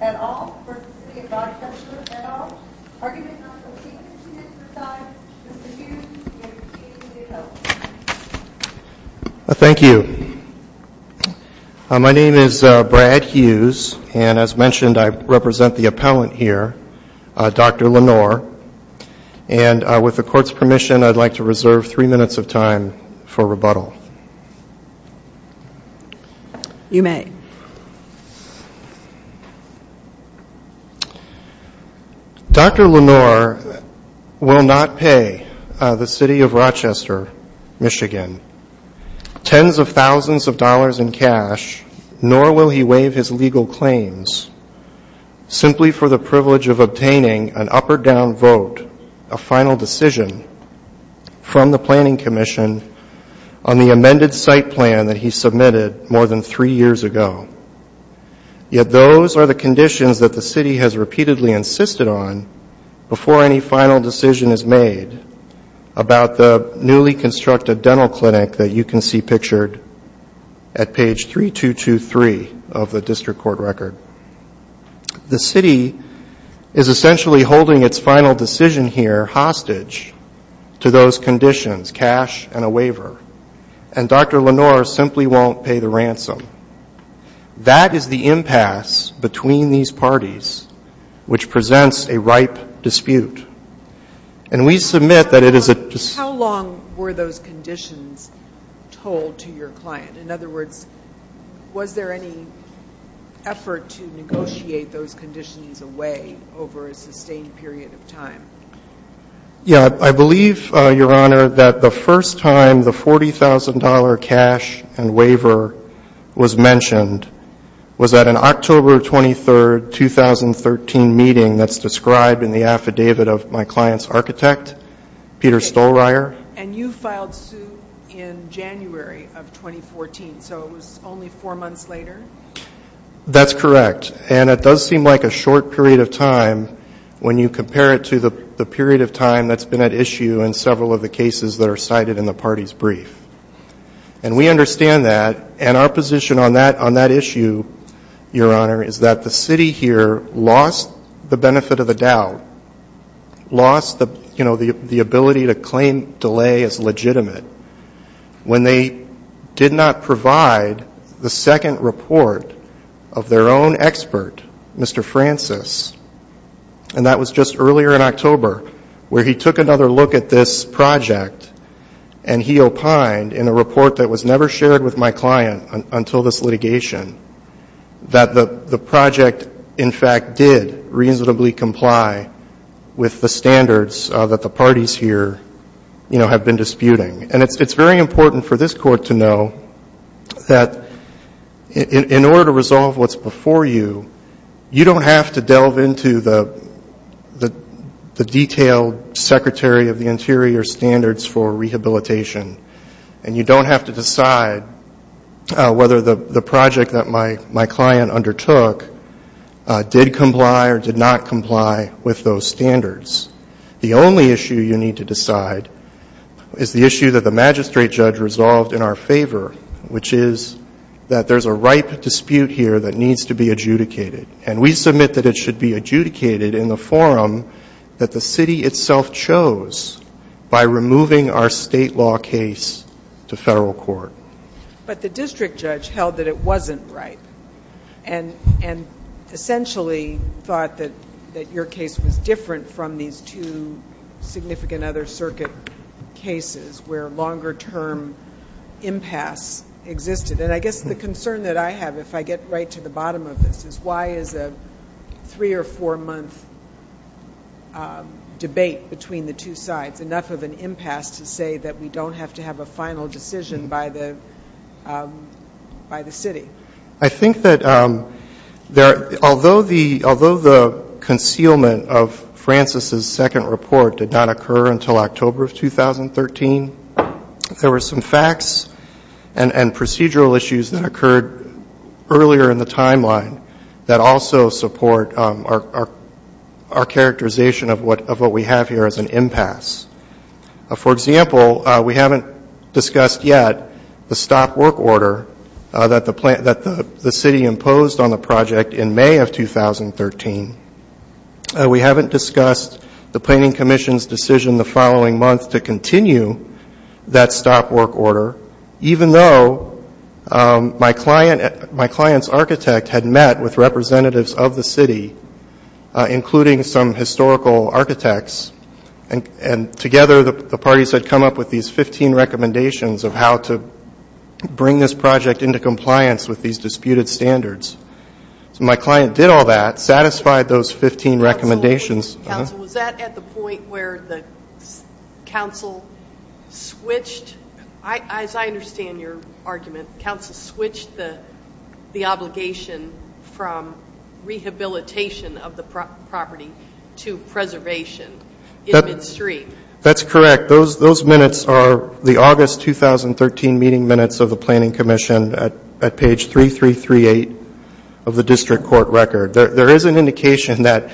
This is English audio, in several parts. at all? Are you going to not complete this unit besides Mr. Hughes and your team to get help? Thank you. My name is Brad Hughes and as mentioned I represent the appellant here, Dr. Lenore. And with the court's permission I'd like to reserve three minutes of time for rebuttal. You may. Dr. Lenore will not pay the City of Rochester, Michigan, tens of thousands of dollars in cash, nor will he waive his legal claims, simply for the privilege of obtaining an up and down vote, a final decision, from the Planning Commission on the amended site plan that he submitted more than three years ago. Yet those are the conditions that the City has repeatedly insisted on before any final decision is made about the newly constructed dental clinic that you can see pictured at page 3223 of the district court record. The City is essentially holding its final decision here hostage to those conditions, cash and a waiver. And Dr. Lenore simply won't pay the ransom. That is the impasse between these parties which presents a ripe dispute. And we submit that it is a How long were those conditions told to your client? In other words, was there any effort to negotiate those conditions away over a sustained period of time? Yeah. I believe, Your Honor, that the first time the $40,000 cash and waiver was mentioned was at an October 23, 2013 meeting that's described in the affidavit of my client's And you filed suit in January of 2014. So it was only four months later? That's correct. And it does seem like a short period of time when you compare it to the period of time that's been at issue in several of the cases that are cited in the party's brief. And we understand that. And our position on that issue, Your Honor, is that the City here lost the benefit of the doubt, lost the, you know, the ability to claim delay as legitimate when they did not provide the second report of their own expert, Mr. Francis. And that was just earlier in October where he took another look at this project and he opined in a report that was never shared with my client until this litigation that the project in fact did reasonably comply with the standards that the parties here, you know, have been disputing. And it's very important for this Court to know that in order to resolve what's before you, you don't have to delve into the detailed Secretary of the Interior's standards for rehabilitation. And you don't have to decide whether the project that my client undertook did comply or did not comply with those standards. The only issue you need to decide is the issue that the magistrate judge resolved in our favor, which is that there's a ripe dispute here that needs to be adjudicated. And we submit that it should be adjudicated in the forum that the City itself chose by removing our state law case to Federal Court. But the district judge held that it wasn't ripe and essentially thought that your case was different from these two significant other circuit cases where longer term impasse existed. And I guess the concern that I have if I get right to the bottom of this is why is a three or four month debate between the two sides enough of an impasse to say that we don't have to have a final decision by the City? I think that although the concealment of Francis's second report did not occur until October of 2013, there were some facts and procedural issues that occurred earlier in the timeline that also support our characterization of what we have here as an impasse. For example, we haven't discussed yet the stop work order that the City imposed on the project in May of 2013. We haven't discussed the Planning Commission's decision the following month to continue that stop work order, even though my client's architect had met with representatives of the City, including some historical architects, and together the parties had come up with these 15 recommendations of how to bring this project into compliance with these disputed standards. So my client did all that, satisfied those 15 recommendations. Counsel, was that at the point where the counsel switched, as I understand your argument, counsel switched the obligation from rehabilitation of the property to preservation in Mid-Street? That's correct. Those minutes are the August 2013 meeting minutes of the Planning Commission at page 3338 of the District Court record. There is an indication that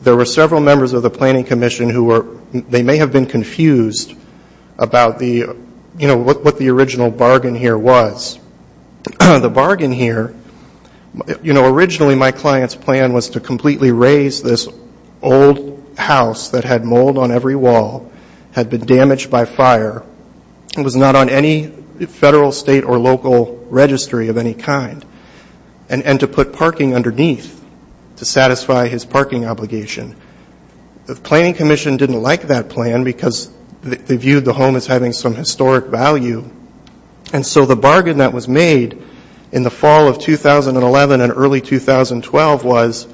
there were several members of the Planning Commission who were, they may have been confused about the, you know, what the original bargain here was. The bargain here, you know, originally my client's plan was to completely raze this old house that had mold on every wall, had been damaged by fire, was not on any federal, state, or local registry of any kind, and to put parking underneath to satisfy his parking obligation. The Planning Commission didn't like that plan because they viewed the home as having some historic value, and so the 2012 was,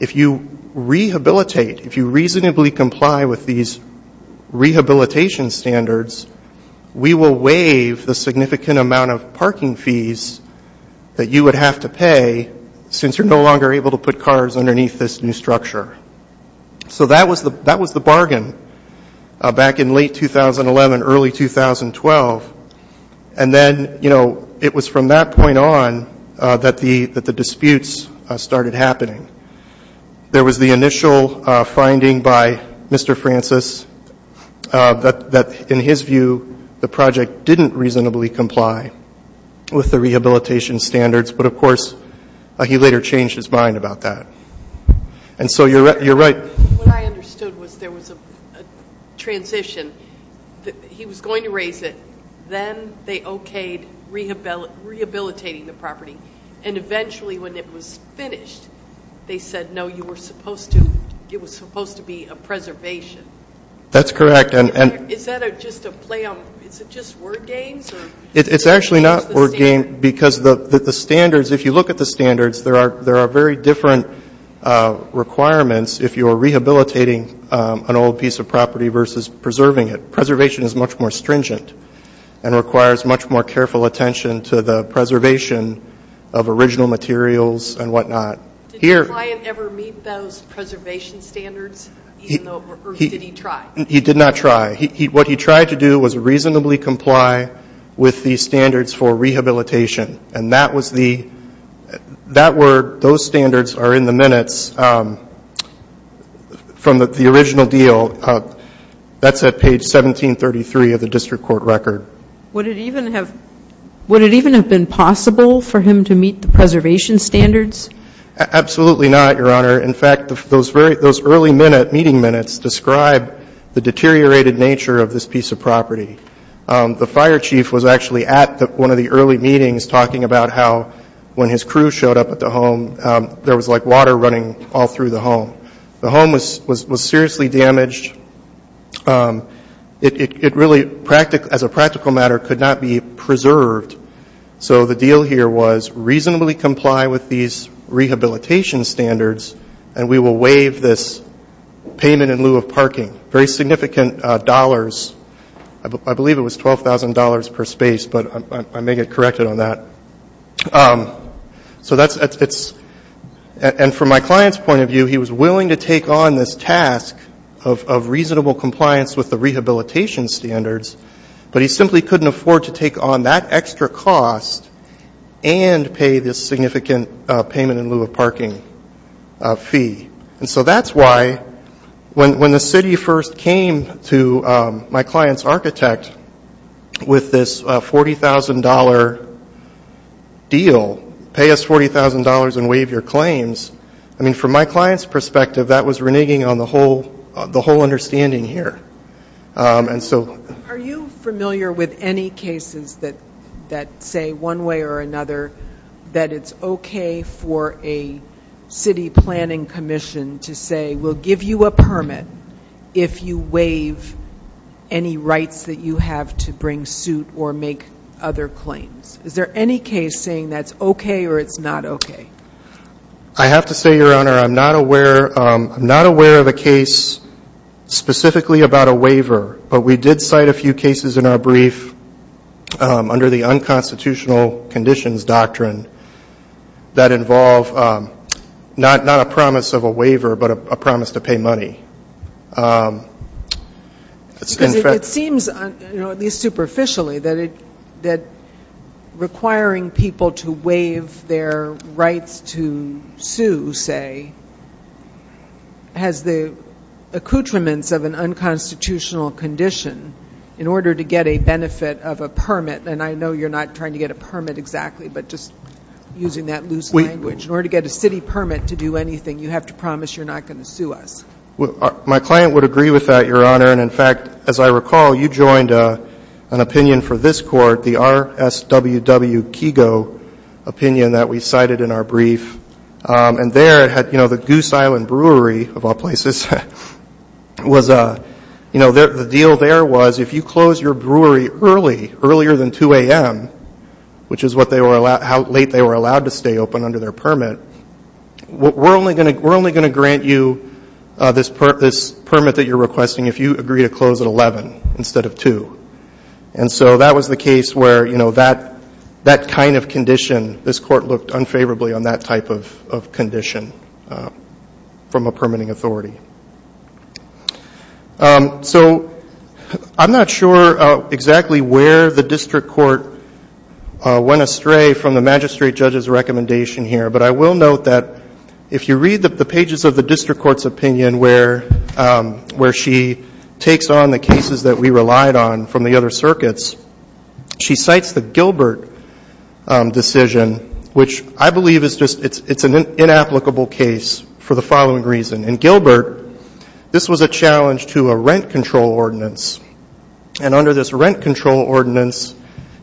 if you rehabilitate, if you reasonably comply with these rehabilitation standards, we will waive the significant amount of parking fees that you would have to pay since you're no longer able to put cars underneath this new structure. So that was the bargain back in late 2011, early 2012, and then, you know, it was from that point on that the disputes started happening. There was the initial finding by Mr. Francis that, in his view, the project didn't reasonably comply with the rehabilitation standards, but, of course, he later changed his mind about that. And so you're right. What I understood was there was a transition. He was going to raze it. Then they okayed it, and then they started rehabilitating the property. And eventually, when it was finished, they said, no, you were supposed to, it was supposed to be a preservation. That's correct. Is that just a play on, is it just word games? It's actually not word game because the standards, if you look at the standards, there are very different requirements if you're rehabilitating an old piece of property versus preserving it. Preservation is much more stringent and requires much more careful attention to the preservation of original materials and whatnot. Did the client ever meet those preservation standards, or did he try? He did not try. What he tried to do was reasonably comply with the standards for rehabilitation. And that was the, that were, those standards are in the minutes from the original deal. That's at page 1733 of the district court record. Would it even have, would it even have been possible for him to meet the preservation standards? Absolutely not, Your Honor. In fact, those very, those early minute, meeting minutes describe the deteriorated nature of this piece of property. The fire chief was actually at one of the early meetings talking about how when his crew showed up at the home, there was like water running all through the home. The home was seriously damaged. It really, as a practical matter, could not be preserved. So the deal here was reasonably comply with these rehabilitation standards, and we will waive this payment in lieu of parking. Very significant dollars. I believe it was $12,000 per space, but I may get corrected on that. So that's, it's, and from my client's point of view, he was willing to take on this task of reasonable compliance with the rehabilitation standards, but he simply couldn't afford to take on that extra cost and pay this significant payment in lieu of parking fee. And so that's why when the city first came to my client's architect with this $40,000 deal, pay us $40,000 and waive your claims, I mean, from my client's perspective, that was reneging on the whole, the whole understanding here. And so... Are you familiar with any cases that say one way or another that it's okay for a city planning commission to say, we'll give you a permit if you waive any rights that you have to bring suit or make other claims? Is there any case saying that's okay or it's not okay? I have to say, Your Honor, I'm not aware, I'm not aware of a case specifically about a waiver, but we did cite a few cases in our brief under the unconstitutional conditions doctrine that involve not, not a promise of a waiver, but a promise to pay money. Because it seems, you know, at least superficially, that it, that requiring people to waive their rights to sue, say, has the accoutrements of an unconstitutional condition in order to get a benefit of a permit, and I know you're not trying to get a permit exactly, but just using that loose language, in order to get a city permit to do anything, you have to do it. My client would agree with that, Your Honor, and in fact, as I recall, you joined an opinion for this court, the RSWW Kigo opinion that we cited in our brief, and there, you know, the Goose Island Brewery, of all places, was, you know, the deal there was, if you close your brewery early, earlier than 2 a.m., which is what they were, how late they were allowed to stay open under their permit, we're only going to grant you this permit that you're requesting if you agree to close at 11 instead of 2. And so that was the case where, you know, that kind of condition, this court looked unfavorably on that type of condition from a permitting authority. So I'm not sure exactly where the district court went astray from the magistrate judge's recommendation here, but I will note that if you read the pages of the district court's opinion where she takes on the cases that we relied on from the other circuits, she cites the Gilbert decision, which I believe is just, it's an inapplicable case for the following reason. In Gilbert, this was a challenge to a rent control ordinance, and under this rent control ordinance,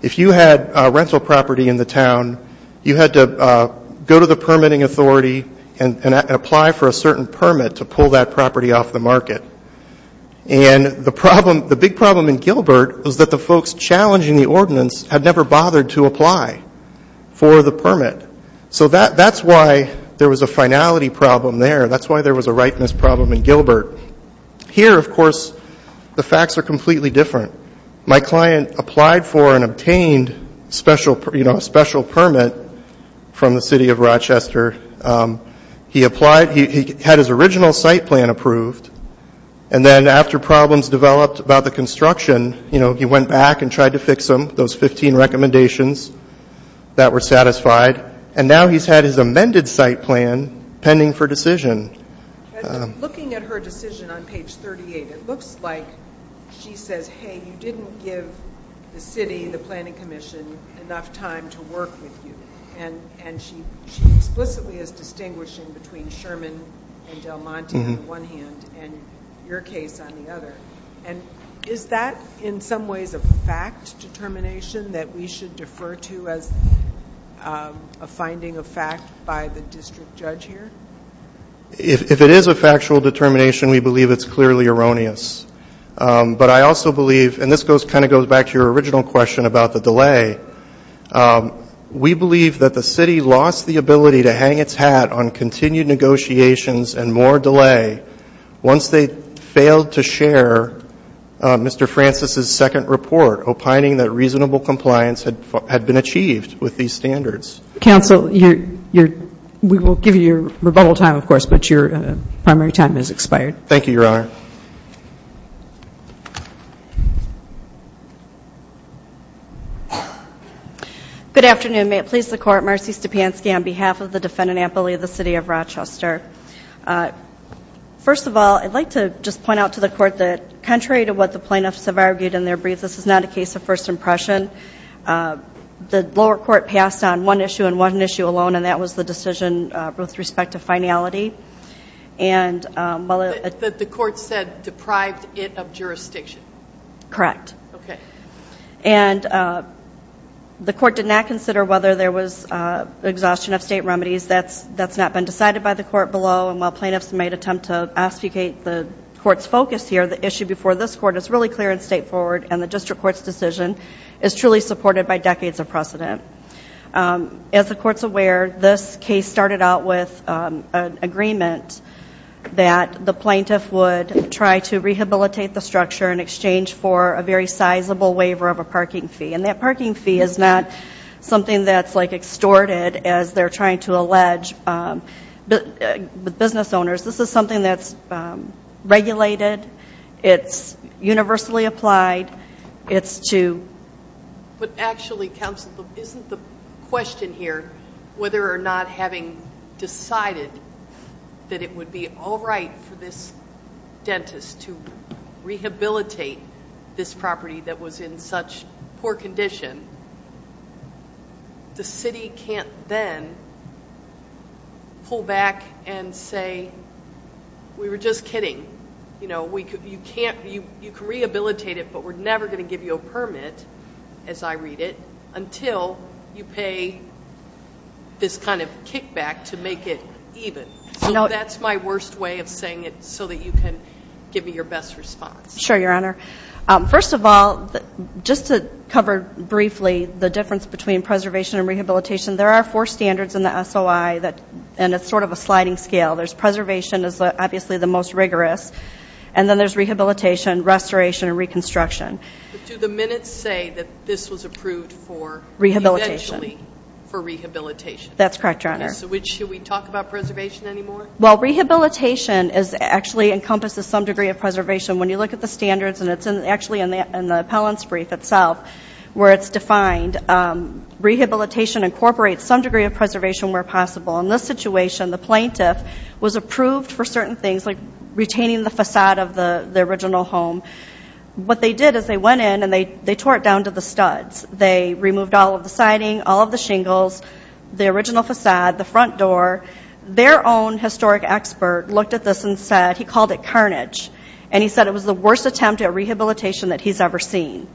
if you had rental property in the town, you had to go to the permitting authority and apply for a certain permit to pull that property off the market. And the problem, the big problem in Gilbert was that the folks challenging the ordinance had never bothered to apply for the permit. So that's why there was a finality problem there. That's why there was a rightness problem in Gilbert. Here, of course, the facts are completely different. My client applied for and obtained special, you know, a special permit from the City of Rochester. He applied, he had his original site plan approved, and then after problems developed about the construction, you know, he went back and tried to fix them, those 15 recommendations that were satisfied. And now he's had his amended site plan pending for decision. Looking at her decision on page 38, it looks like she says, hey, you didn't give the city, the planning commission, enough time to work with you. And she explicitly is distinguishing between Sherman and Del Monte on the one hand, and your case on the other. Is that, in some ways, a fact determination that we should defer to as a finding of fact by the district judge here? If it is a factual determination, we believe it's clearly erroneous. But I also believe, and this kind of goes back to your original question about the delay, we believe that the city lost the ability to hang its hat on continued negotiations and more delay once they failed to share Mr. Francis's second report, opining that reasonable compliance had been achieved with these standards. Counsel, we will give you your rebuttal time, of course, but your primary time has expired. Thank you, Your Honor. Good afternoon. May it please the Court, Marcy Stepanski on behalf of the defendant, Anthony Lee of the City of Rochester. First of all, I'd like to just point out to the Court that contrary to what the plaintiffs have argued in their briefs, this is not a case of first impression. The lower court passed on one issue and one issue alone, and that was the decision with respect to finality. The court said deprived it of jurisdiction. Correct. The court did not consider whether there was exhaustion of state remedies. That's not been decided by the court below, and while plaintiffs may attempt to obfuscate the court's focus here, the issue before this court is really clear and truly supported by decades of precedent. As the court's aware, this case started out with an agreement that the plaintiff would try to rehabilitate the structure in exchange for a very sizable waiver of a parking fee, and that parking fee is not something that's extorted as they're trying to allege with business owners. This is something that's regulated. It's universally applied. But actually, counsel, isn't the question here whether or not having decided that it would be all right for this dentist to rehabilitate this property that was in such poor condition, the city can't then pull back and say, we were just kidding. You can rehabilitate it, but we're never going to give you a permit, as I read it, until you pay this kind of kickback to make it even. So that's my worst way of saying it so that you can give me your best response. Sure, Your Honor. First of all, just to cover briefly the difference between preservation and rehabilitation, there are four standards in the SOI, and it's sort of a sliding scale. There's preservation is obviously the most rigorous, and then there's rehabilitation, restoration, and reconstruction. But do the minutes say that this was approved for eventually for rehabilitation? That's correct, Your Honor. So should we talk about preservation anymore? Well, rehabilitation actually encompasses some degree of preservation. When you look at the standards, and it's actually in the appellant's brief itself where it's defined, rehabilitation incorporates some degree of preservation where possible. In this situation, the plaintiff was approved for certain things, like retaining the façade of the original home. What they did is they went in and they tore it down to the studs. They removed all of the siding, all of the shingles, the original façade, the front door. Their own historic expert looked at this and said he called it carnage, and he said it was the worst attempt at rehabilitation that he's ever seen.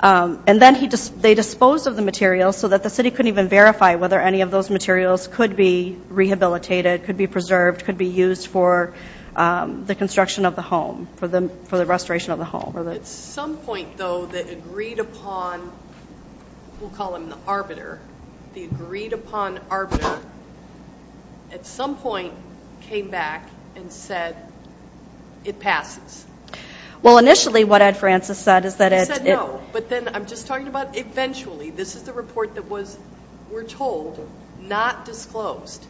And then they disposed of the materials so that the city couldn't even verify whether any of those materials could be rehabilitated, could be preserved, could be used for the construction of the home, for the restoration of the home. At some point, though, the agreed-upon, we'll call him the arbiter, the agreed-upon arbiter at some point came back and said it passes. Well, initially what Ed Francis said is that it's no. But then I'm just talking about eventually. This is the report that was, we're told, not disclosed.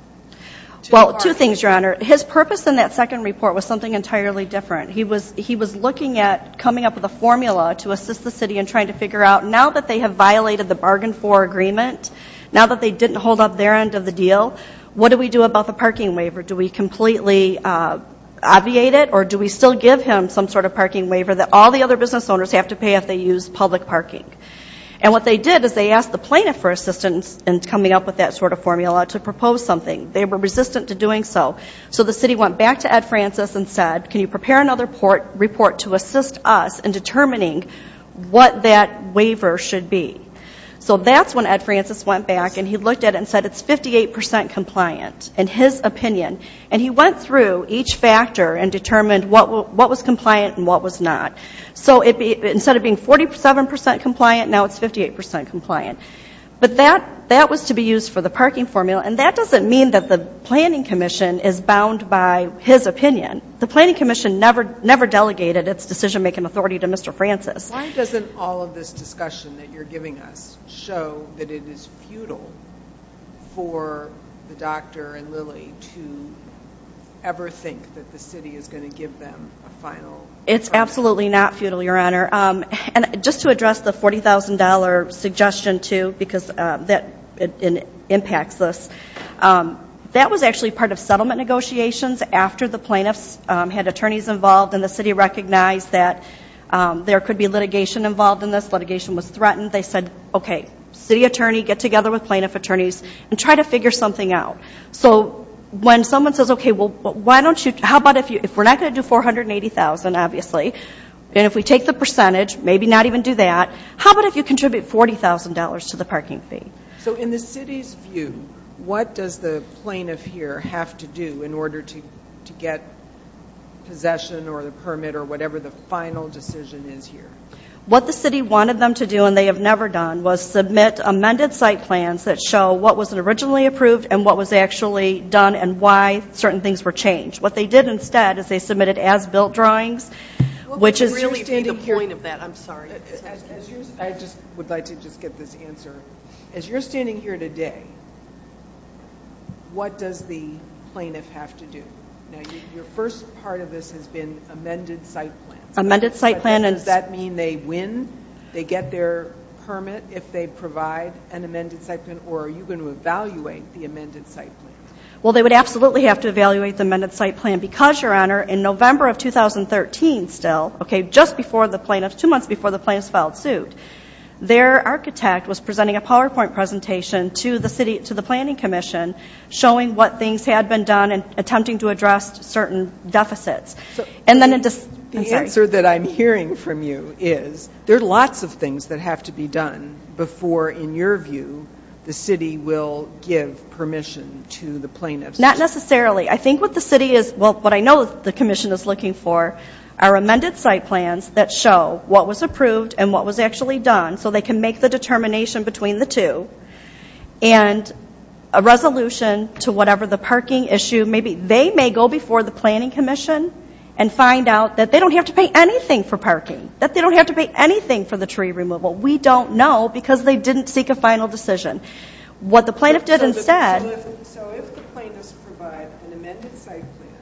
Well, two things, Your Honor. His purpose in that second report was something entirely different. He was looking at coming up with a formula to assist the city in trying to figure out, now that they have violated the bargain for agreement, now that they didn't hold up their end of the deal, what do we do about the parking waiver? Do we completely obviate it, or do we still give him some sort of parking waiver that all the other business owners have to pay if they use public parking? And what they did is they asked the plaintiff for assistance in coming up with that sort of formula to propose something. They were resistant to doing so. So the city went back to Ed Francis and said, can you prepare another report to assist us in determining what that waiver should be? So that's when Ed Francis went back and he looked at it and said it's 58% compliant, in his opinion. And he went through each factor and determined what was compliant and what was not. So instead of being 47% compliant, now it's 58% compliant. But that was to be used for the parking formula, and that doesn't mean that the planning commission is bound by his opinion. The planning commission never delegated its decision-making authority to Mr. Francis. Why doesn't all of this discussion that you're giving us show that it is futile for the doctor and Lily to ever think that the city is going to give them a final argument? It's absolutely not futile, Your Honor. And just to address the $40,000 suggestion too, because that impacts this, that was actually part of settlement negotiations after the plaintiffs had attorneys involved and the city recognized that there could be litigation involved in this, litigation was threatened. They said, okay, city attorney, get together with plaintiff attorneys and try to figure something out. So when someone says, okay, well, why don't you, how about if we're not going to do $480,000, obviously, and if we take the percentage, maybe not even do that, how about if you contribute $40,000 to the parking fee? So in the city's view, what does the plaintiff here have to do in order to get possession or the permit or whatever the final decision is here? What the city wanted them to do, and they have never done, was submit amended site plans that show what was originally approved and what was actually done and why certain things were changed. What they did instead is they submitted as-built drawings, which is really the point of that. I'm sorry. I would like to just get this answer. As you're standing here today, what does the plaintiff have to do? Now, your first part of this has been amended site plans. Amended site plans. Does that mean they win, they get their permit if they provide an amended site plan, or are you going to evaluate the amended site plan? Well, they would absolutely have to evaluate the amended site plan because, Your Honor, in November of 2013 still, just two months before the plaintiffs filed suit, their architect was presenting a PowerPoint presentation to the planning commission showing what things had been done and attempting to address certain deficits. The answer that I'm hearing from you is there are lots of things that have to be done before, in your view, the city will give permission to the plaintiffs. Not necessarily. I think what the city is, well, what I know the commission is looking for are amended site plans that show what was approved and what was actually done so they can make the determination between the two and a resolution to whatever the parking issue may be. They may go before the planning commission and find out that they don't have to pay anything for parking, that they don't have to pay anything for the tree removal. We don't know because they didn't seek a final decision. What the plaintiff did instead. So if the plaintiffs provide an amended site plan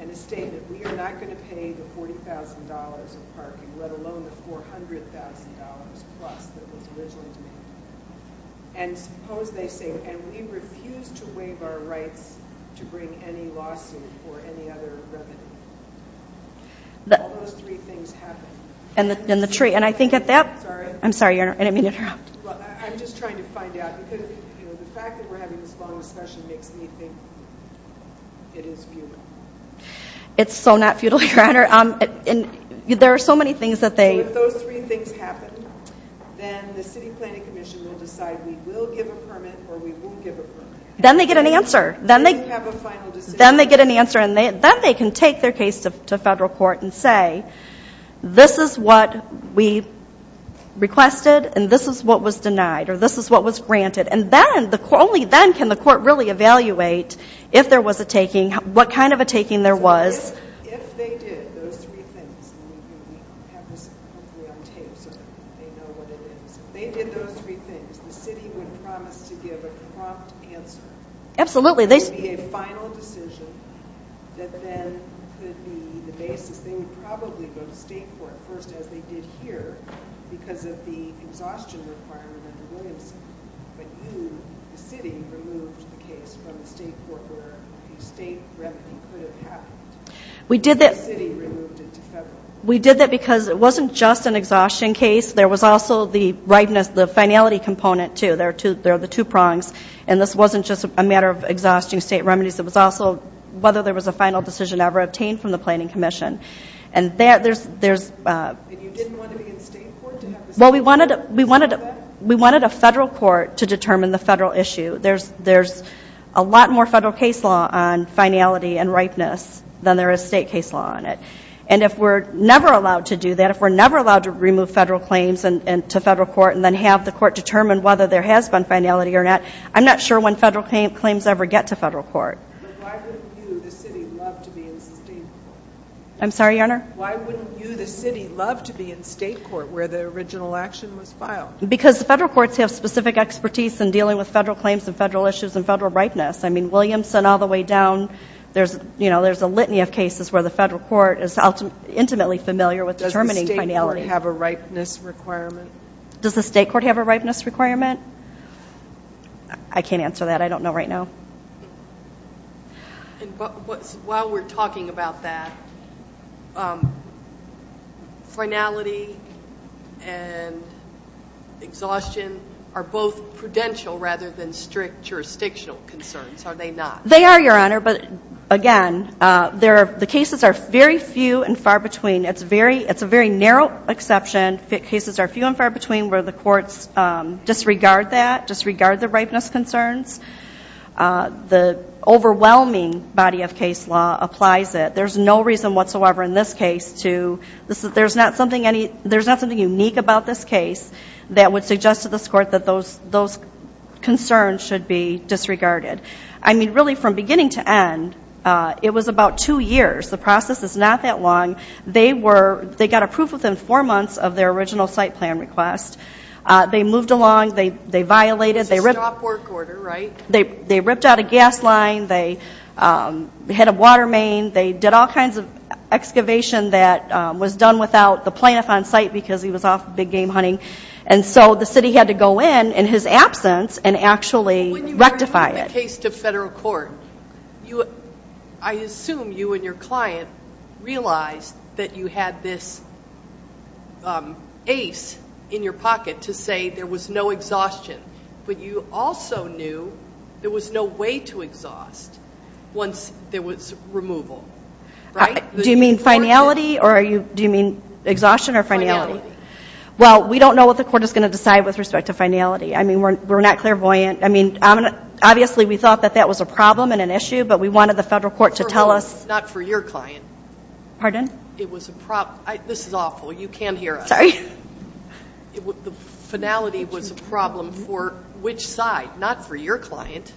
and a statement, we are not going to pay the $40,000 of parking, let alone the $400,000 plus that was originally demanded. And suppose they say, and we refuse to waive our rights to bring any lawsuit or any other revenue. All those three things happen. I'm sorry, I didn't mean to interrupt. I'm just trying to find out because the fact that we're having this long discussion makes me think it is futile. It's so not futile, Your Honor. There are so many things that they. So if those three things happen, then the city planning commission will decide we will give a permit or we won't give a permit. Then they get an answer. Then they have a final decision. Then they get an answer and then they can take their case to federal court and say, this is what we requested and this is what was denied or this is what was granted. And then, only then can the court really evaluate if there was a taking, what kind of a taking there was. If they did those three things, and we have this hopefully on tape so they know what it is. If they did those three things, the city would promise to give a prompt answer. Absolutely. It would be a final decision that then could be the basis. They would probably go to state court first as they did here because of the exhaustion requirement under Williamson. But you, the city, removed the case from the state court where the state remedy could have happened. The city removed it to federal. We did that because it wasn't just an exhaustion case. There was also the finality component, too. There are the two prongs. And this wasn't just a matter of exhausting state remedies. It was also whether there was a final decision ever obtained from the planning commission. And that, there's... And you didn't want to be in state court to have the... Well, we wanted a federal court to determine the federal issue. There's a lot more federal case law on finality and ripeness than there is state case law on it. And if we're never allowed to do that, if we're never allowed to remove federal claims to federal court and then have the court determine whether there has been finality or not, I'm not sure when federal claims ever get to federal court. But why wouldn't you, the city, love to be in state court? I'm sorry, Your Honor? Why wouldn't you, the city, love to be in state court where the original action was filed? Because the federal courts have specific expertise in dealing with federal claims and federal issues and federal ripeness. I mean, Williamson all the way down, there's a litany of cases where the federal court is intimately familiar with determining finality. Does the state court have a ripeness requirement? Does the state court have a ripeness requirement? I can't answer that. I don't know right now. While we're talking about that, finality and exhaustion are both prudential rather than strict jurisdictional concerns, are they not? They are, Your Honor. But, again, the cases are very few and far between. It's a very narrow exception. Cases are few and far between where the courts disregard that, disregard the ripeness concerns. The overwhelming body of case law applies it. There's no reason whatsoever in this case to, there's not something unique about this case that would suggest to this court that those concerns should be disregarded. I mean, really, from beginning to end, it was about two years. The process is not that long. They got approved within four months of their original site plan request. They moved along. They violated. It's a stop work order, right? They ripped out a gas line. They hit a water main. They did all kinds of excavation that was done without the plaintiff on site because he was off big game hunting. And so the city had to go in, in his absence, and actually rectify it. When you bring that case to federal court, I assume you and your client realized that you had this ace in your pocket to say there was no exhaustion. But you also knew there was no way to exhaust once there was removal, right? Do you mean finality or are you, do you mean exhaustion or finality? Finality. Well, we don't know what the court is going to decide with respect to finality. I mean, we're not clairvoyant. I mean, obviously, we thought that that was a problem and an issue, but we wanted the federal court to tell us. Not for your client. Pardon? It was a problem. This is awful. You can't hear us. Sorry. The finality was a problem for which side? Not for your client.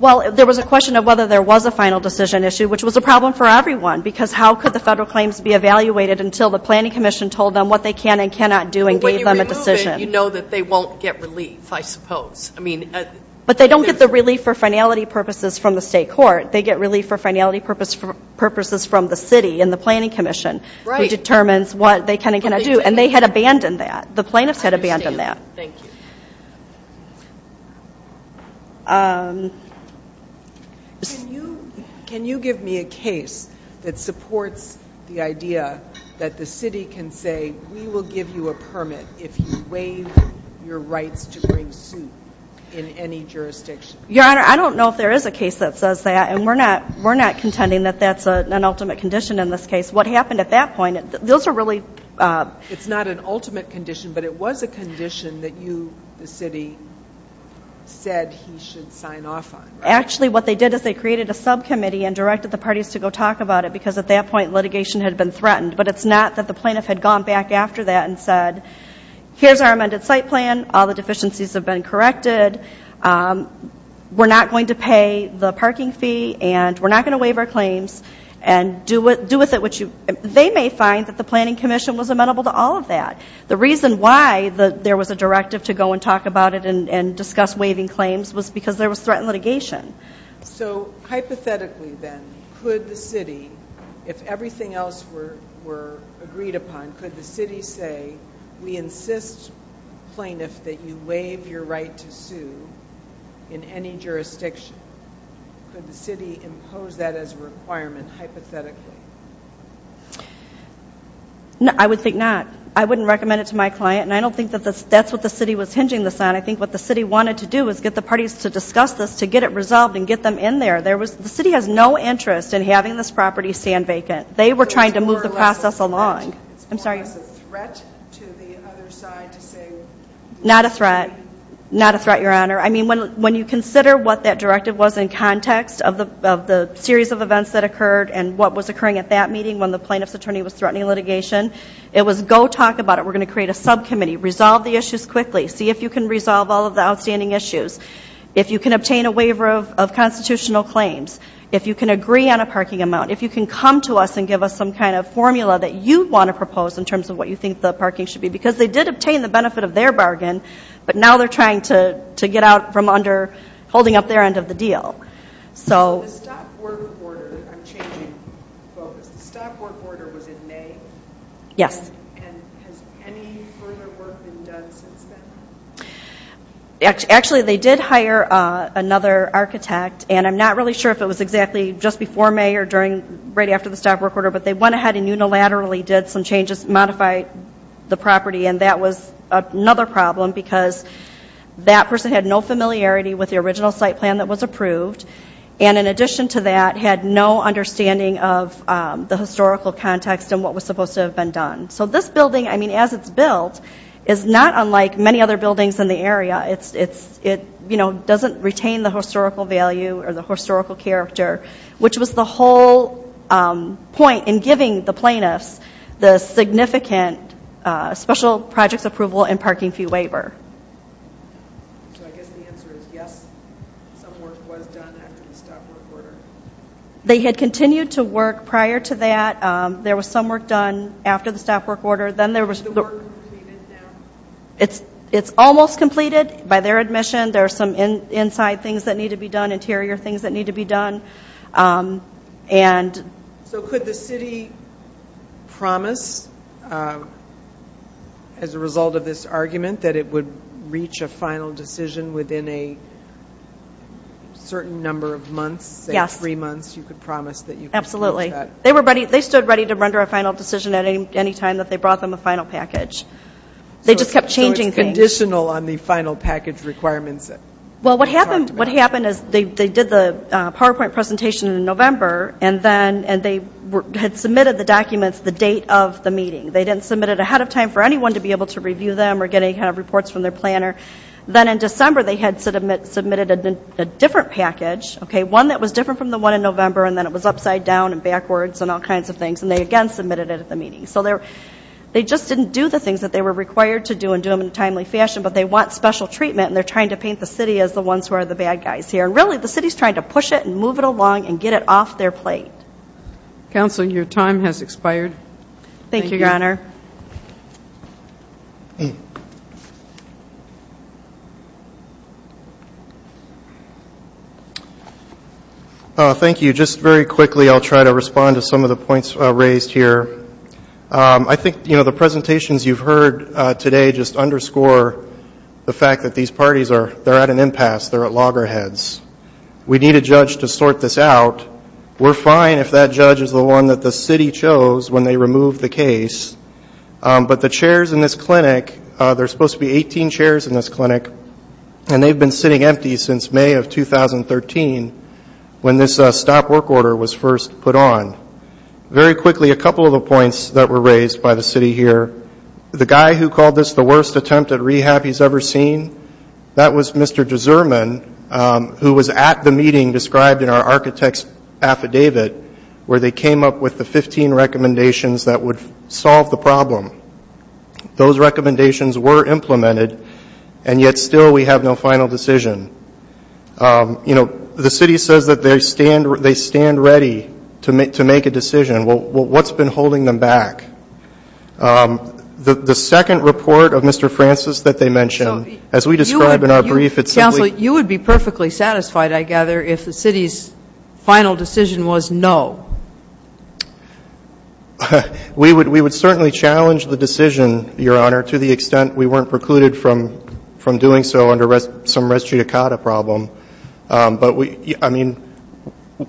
Well, there was a question of whether there was a final decision issue, which was a problem for everyone because how could the federal claims be evaluated until the planning commission told them what they can and cannot do and gave them a decision? You know that they won't get relief, I suppose. But they don't get the relief for finality purposes from the state court. They get relief for finality purposes from the city and the planning commission who determines what they can and cannot do. And they had abandoned that. The plaintiffs had abandoned that. I understand. Thank you. Can you give me a case that supports the idea that the city can say, we will give you a permit if you waive your rights to bring suit in any jurisdiction? Your Honor, I don't know if there is a case that says that, and we're not contending that that's an ultimate condition in this case. What happened at that point, those are really ---- It's not an ultimate condition, but it was a condition that you, the city, said he should sign off on, right? Actually, what they did is they created a subcommittee and directed the parties to go talk about it because at that point litigation had been threatened. But it's not that the plaintiff had gone back after that and said, here's our amended site plan, all the deficiencies have been corrected, we're not going to pay the parking fee and we're not going to waive our claims and do with it what you ---- They may find that the planning commission was amenable to all of that. The reason why there was a directive to go and talk about it and discuss waiving claims was because there was threatened litigation. So, hypothetically then, could the city, if everything else were agreed upon, could the city say, we insist, plaintiff, that you waive your right to sue in any jurisdiction? Could the city impose that as a requirement, hypothetically? I would think not. I wouldn't recommend it to my client and I don't think that's what the city was hinging this on. I think what the city wanted to do was get the parties to discuss this, to get it resolved and get them in there. The city has no interest in having this property stand vacant. They were trying to move the process along. It's more or less a threat. I'm sorry. It's more or less a threat to the other side to say ---- Not a threat. Not a threat, Your Honor. I mean, when you consider what that directive was in context of the series of events that occurred and what was occurring at that meeting when the plaintiff's attorney was threatening litigation, it was go talk about it. We're going to create a subcommittee. Resolve the issues quickly. See if you can resolve all of the outstanding issues. If you can obtain a waiver of constitutional claims. If you can agree on a parking amount. If you can come to us and give us some kind of formula that you want to propose in terms of what you think the parking should be. Because they did obtain the benefit of their bargain, but now they're trying to get out from under holding up their end of the deal. So the stop work order, I'm changing focus, the stop work order was in May. Yes. And has any further work been done since then? Actually, they did hire another architect, and I'm not really sure if it was exactly just before May or right after the stop work order, but they went ahead and unilaterally did some changes, modified the property, and that was another problem because that person had no familiarity with the original site plan that was approved, and in addition to that had no understanding of the historical context and what was supposed to have been done. So this building, I mean, as it's built, is not unlike many other buildings in the area. It doesn't retain the historical value or the historical character, which was the whole point in giving the plaintiffs the significant special projects approval and parking fee waiver. So I guess the answer is yes, some work was done after the stop work order. They had continued to work prior to that. There was some work done after the stop work order. Is the work completed now? It's almost completed by their admission. There are some inside things that need to be done, interior things that need to be done. So could the city promise as a result of this argument that it would reach a final decision within a certain number of months, say three months, you could promise that you could do that? Absolutely. They stood ready to render a final decision at any time that they brought them a final package. They just kept changing things. So it's conditional on the final package requirements? Well, what happened is they did the PowerPoint presentation in November and they had submitted the documents the date of the meeting. They didn't submit it ahead of time for anyone to be able to review them or get any kind of reports from their planner. Then in December they had submitted a different package, one that was different from the one in November, and then it was upside down and backwards and all kinds of things, and they again submitted it at the meeting. So they just didn't do the things that they were required to do and do them in a timely fashion, but they want special treatment and they're trying to paint the city as the ones who are the bad guys here. Really the city is trying to push it and move it along and get it off their plate. Counsel, your time has expired. Thank you, Your Honor. Thank you. Just very quickly I'll try to respond to some of the points raised here. I think the presentations you've heard today just underscore the fact that these parties are at an impasse, they're at loggerheads. We need a judge to sort this out. We're fine if that judge is the one that the city chose when they removed the case, but the chairs in this clinic, there are supposed to be 18 chairs in this clinic, and they've been sitting empty since May of 2013 when this stop work order was first put on. Very quickly, a couple of the points that were raised by the city here. The guy who called this the worst attempt at rehab he's ever seen, that was Mr. Dzurman who was at the meeting described in our architect's affidavit where they came up with the 15 recommendations that would solve the problem. Those recommendations were implemented, and yet still we have no final decision. You know, the city says that they stand ready to make a decision. Well, what's been holding them back? The second report of Mr. Francis that they mentioned, as we describe in our brief, it's simply- Counsel, you would be perfectly satisfied, I gather, if the city's final decision was no. We would certainly challenge the decision, Your Honor, to the extent we weren't precluded from doing so under some res judicata problem. But, I mean,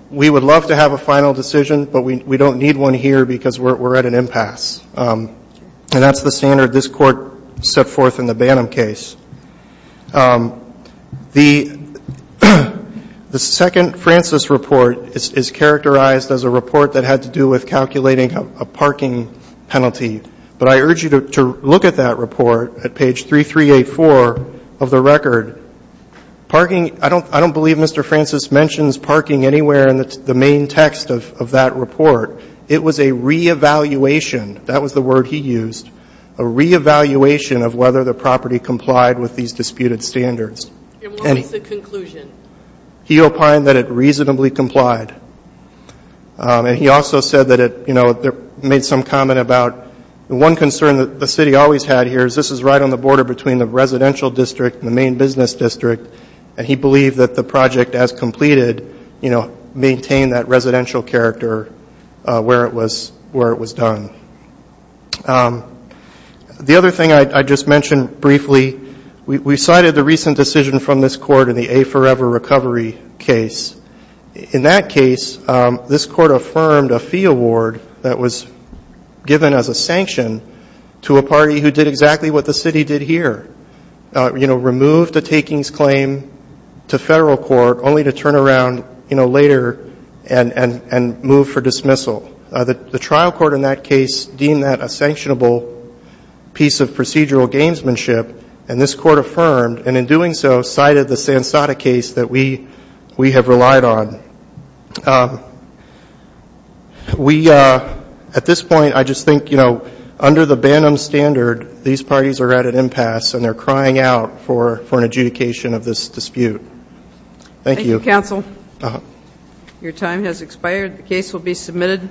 we would love to have a final decision, but we don't need one here because we're at an impasse. And that's the standard this Court set forth in the Bantam case. The second Francis report is characterized as a report that had to do with calculating a parking penalty. But I urge you to look at that report at page 3384 of the record. Parking, I don't believe Mr. Francis mentions parking anywhere in the main text of that report. It was a re-evaluation, that was the word he used, a re-evaluation of whether the property complied with these disputed standards. And what makes the conclusion? He opined that it reasonably complied. And he also said that it, you know, made some comment about, and one concern that the city always had here is this is right on the border between the residential district and the main business district, and he believed that the project, as completed, you know, maintained that residential character where it was done. The other thing I just mentioned briefly, we cited the recent decision from this Court in the A Forever Recovery case. In that case, this Court affirmed a fee award that was given as a sanction to a party who did exactly what the city did here, you know, removed a takings claim to federal court only to turn around, you know, later and move for dismissal. The trial court in that case deemed that a sanctionable piece of procedural gamesmanship, and this Court affirmed, and in doing so, cited the Sansada case that we have relied on. We, at this point, I just think, you know, under the Banham standard, these parties are at an impasse and they're crying out for an adjudication of this dispute. Thank you. Thank you, counsel. Your time has expired. The case will be submitted.